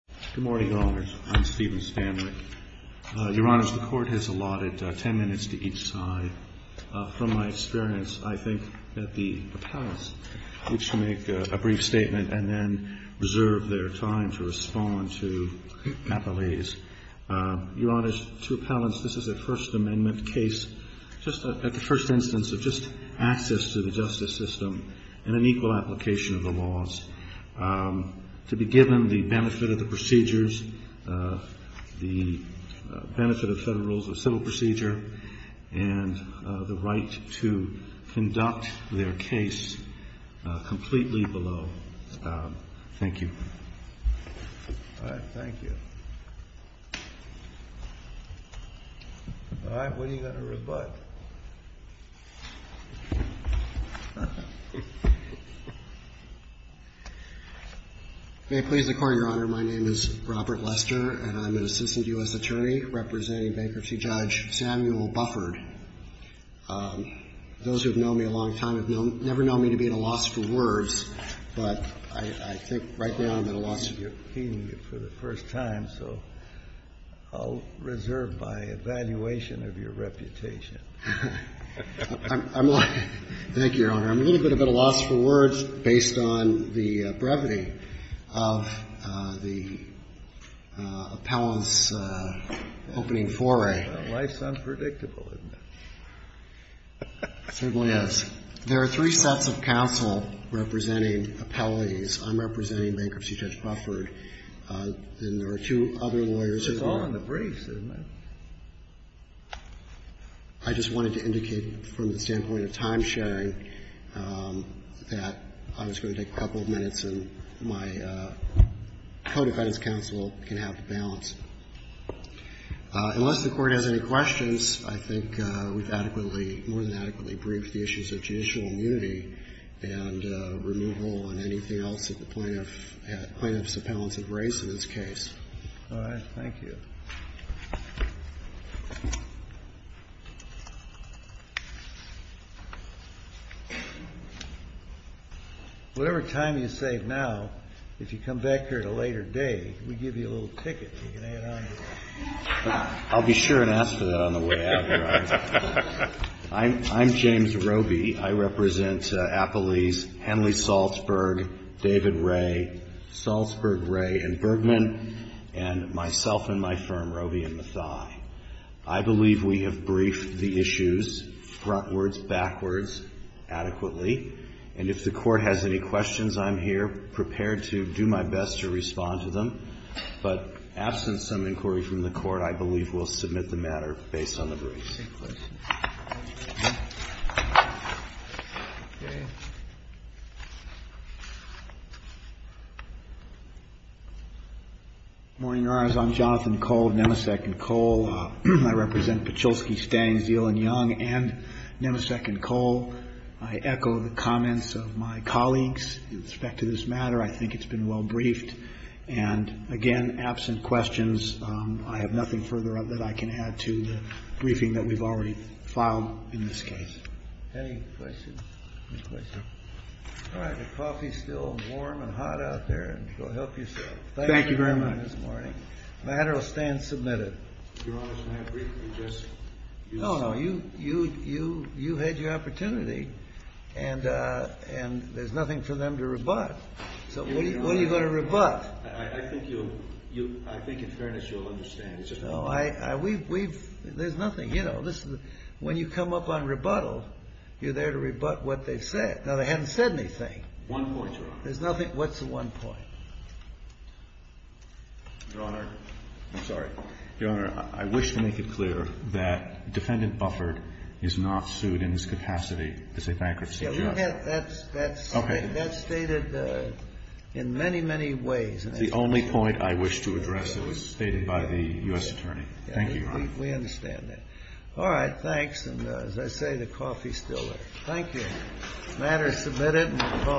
Good morning, Your Honors. I'm Stephen Stanwyck. Your Honors, the Court has allotted ten minutes to each side. From my experience, I think that the appellants should make a brief statement and then reserve their time to respond to appellees. Your Honors, to appellants, this is a First Amendment case, just a first instance of just access to the justice system and an applicable application of the laws, to be given the benefit of the procedures, the benefit of federal civil procedure, and the right to conduct their case completely below. Thank you. All right. Thank you. All right. When are you going to rebut? May it please the Court, Your Honor, my name is Robert Lester, and I'm an assistant U.S. attorney representing bankruptcy judge Samuel Bufford. Those who have known me a long time would never know me to be at a loss for words, but I think right now I'm at a loss for words. You're repeating it for the first time, so I'll reserve my evaluation of your reputation. Thank you, Your Honor. I'm a little bit at a loss for words based on the brevity of the appellant's opening foray. Life's unpredictable, isn't it? It certainly is. There are three sets of counsel representing appellees. I'm representing bankruptcy judge Bufford, and there are two other lawyers. It's all in the briefs, isn't it? I just wanted to indicate from the standpoint of time-sharing that I was going to take a couple of minutes, and my co-defendant's counsel can have the balance. Unless the Court has any questions, I think we've adequately, more than adequately briefed the issues of judicial immunity and removal and anything else that the plaintiff's appellants have raised in this case. All right. Thank you. Whatever time you save now, if you come back here at a later date, we give you a little ticket. You can hang it on your wall. I'll be sure and ask for that on the way out, Your Honor. I'm James Roby. I represent appellees Henley-Salzburg, David Ray, Salzburg-Ray, and Bergman, and myself and my firm, Roby and Mathai. I believe we have briefed the issues, frontwards, backwards, adequately. And if the Court has any questions, I'm here prepared to do my best to respond to them. But absent some inquiry from the Court, I believe we'll submit the matter based on the briefs. Okay. Good morning, Your Honors. I'm Jonathan Cole of Nemesek & Cole. I represent Petcholsky, Stang, Zeland, Young, and Nemesek & Cole. I echo the comments of my colleagues with respect to this matter. I think it's been well briefed. And again, absent questions, I have nothing further that I can add to the briefing that we've already filed in this case. Any questions? Any questions? All right. The coffee's still warm and hot out there. Go help yourself. Thank you very much. The matter will stand submitted. Your Honors, may I briefly just... No, no. You had your opportunity, and there's nothing for them to rebut. So what are you going to rebut? I think in fairness, you'll understand. No, there's nothing. You know, when you come up on rebuttal, you're there to rebut what they've said. Now, they haven't said anything. One point, Your Honor. There's nothing. What's the one point? Your Honor, I'm sorry. Your Honor, I wish to make it clear that Defendant Bufford is not sued in his capacity as a bankruptcy judge. That's stated in many, many ways. It's the only point I wish to address that was stated by the U.S. Attorney. Thank you, Your Honor. We understand that. All right. Thanks. And as I say, the coffee's still there. Thank you. The matter is submitted.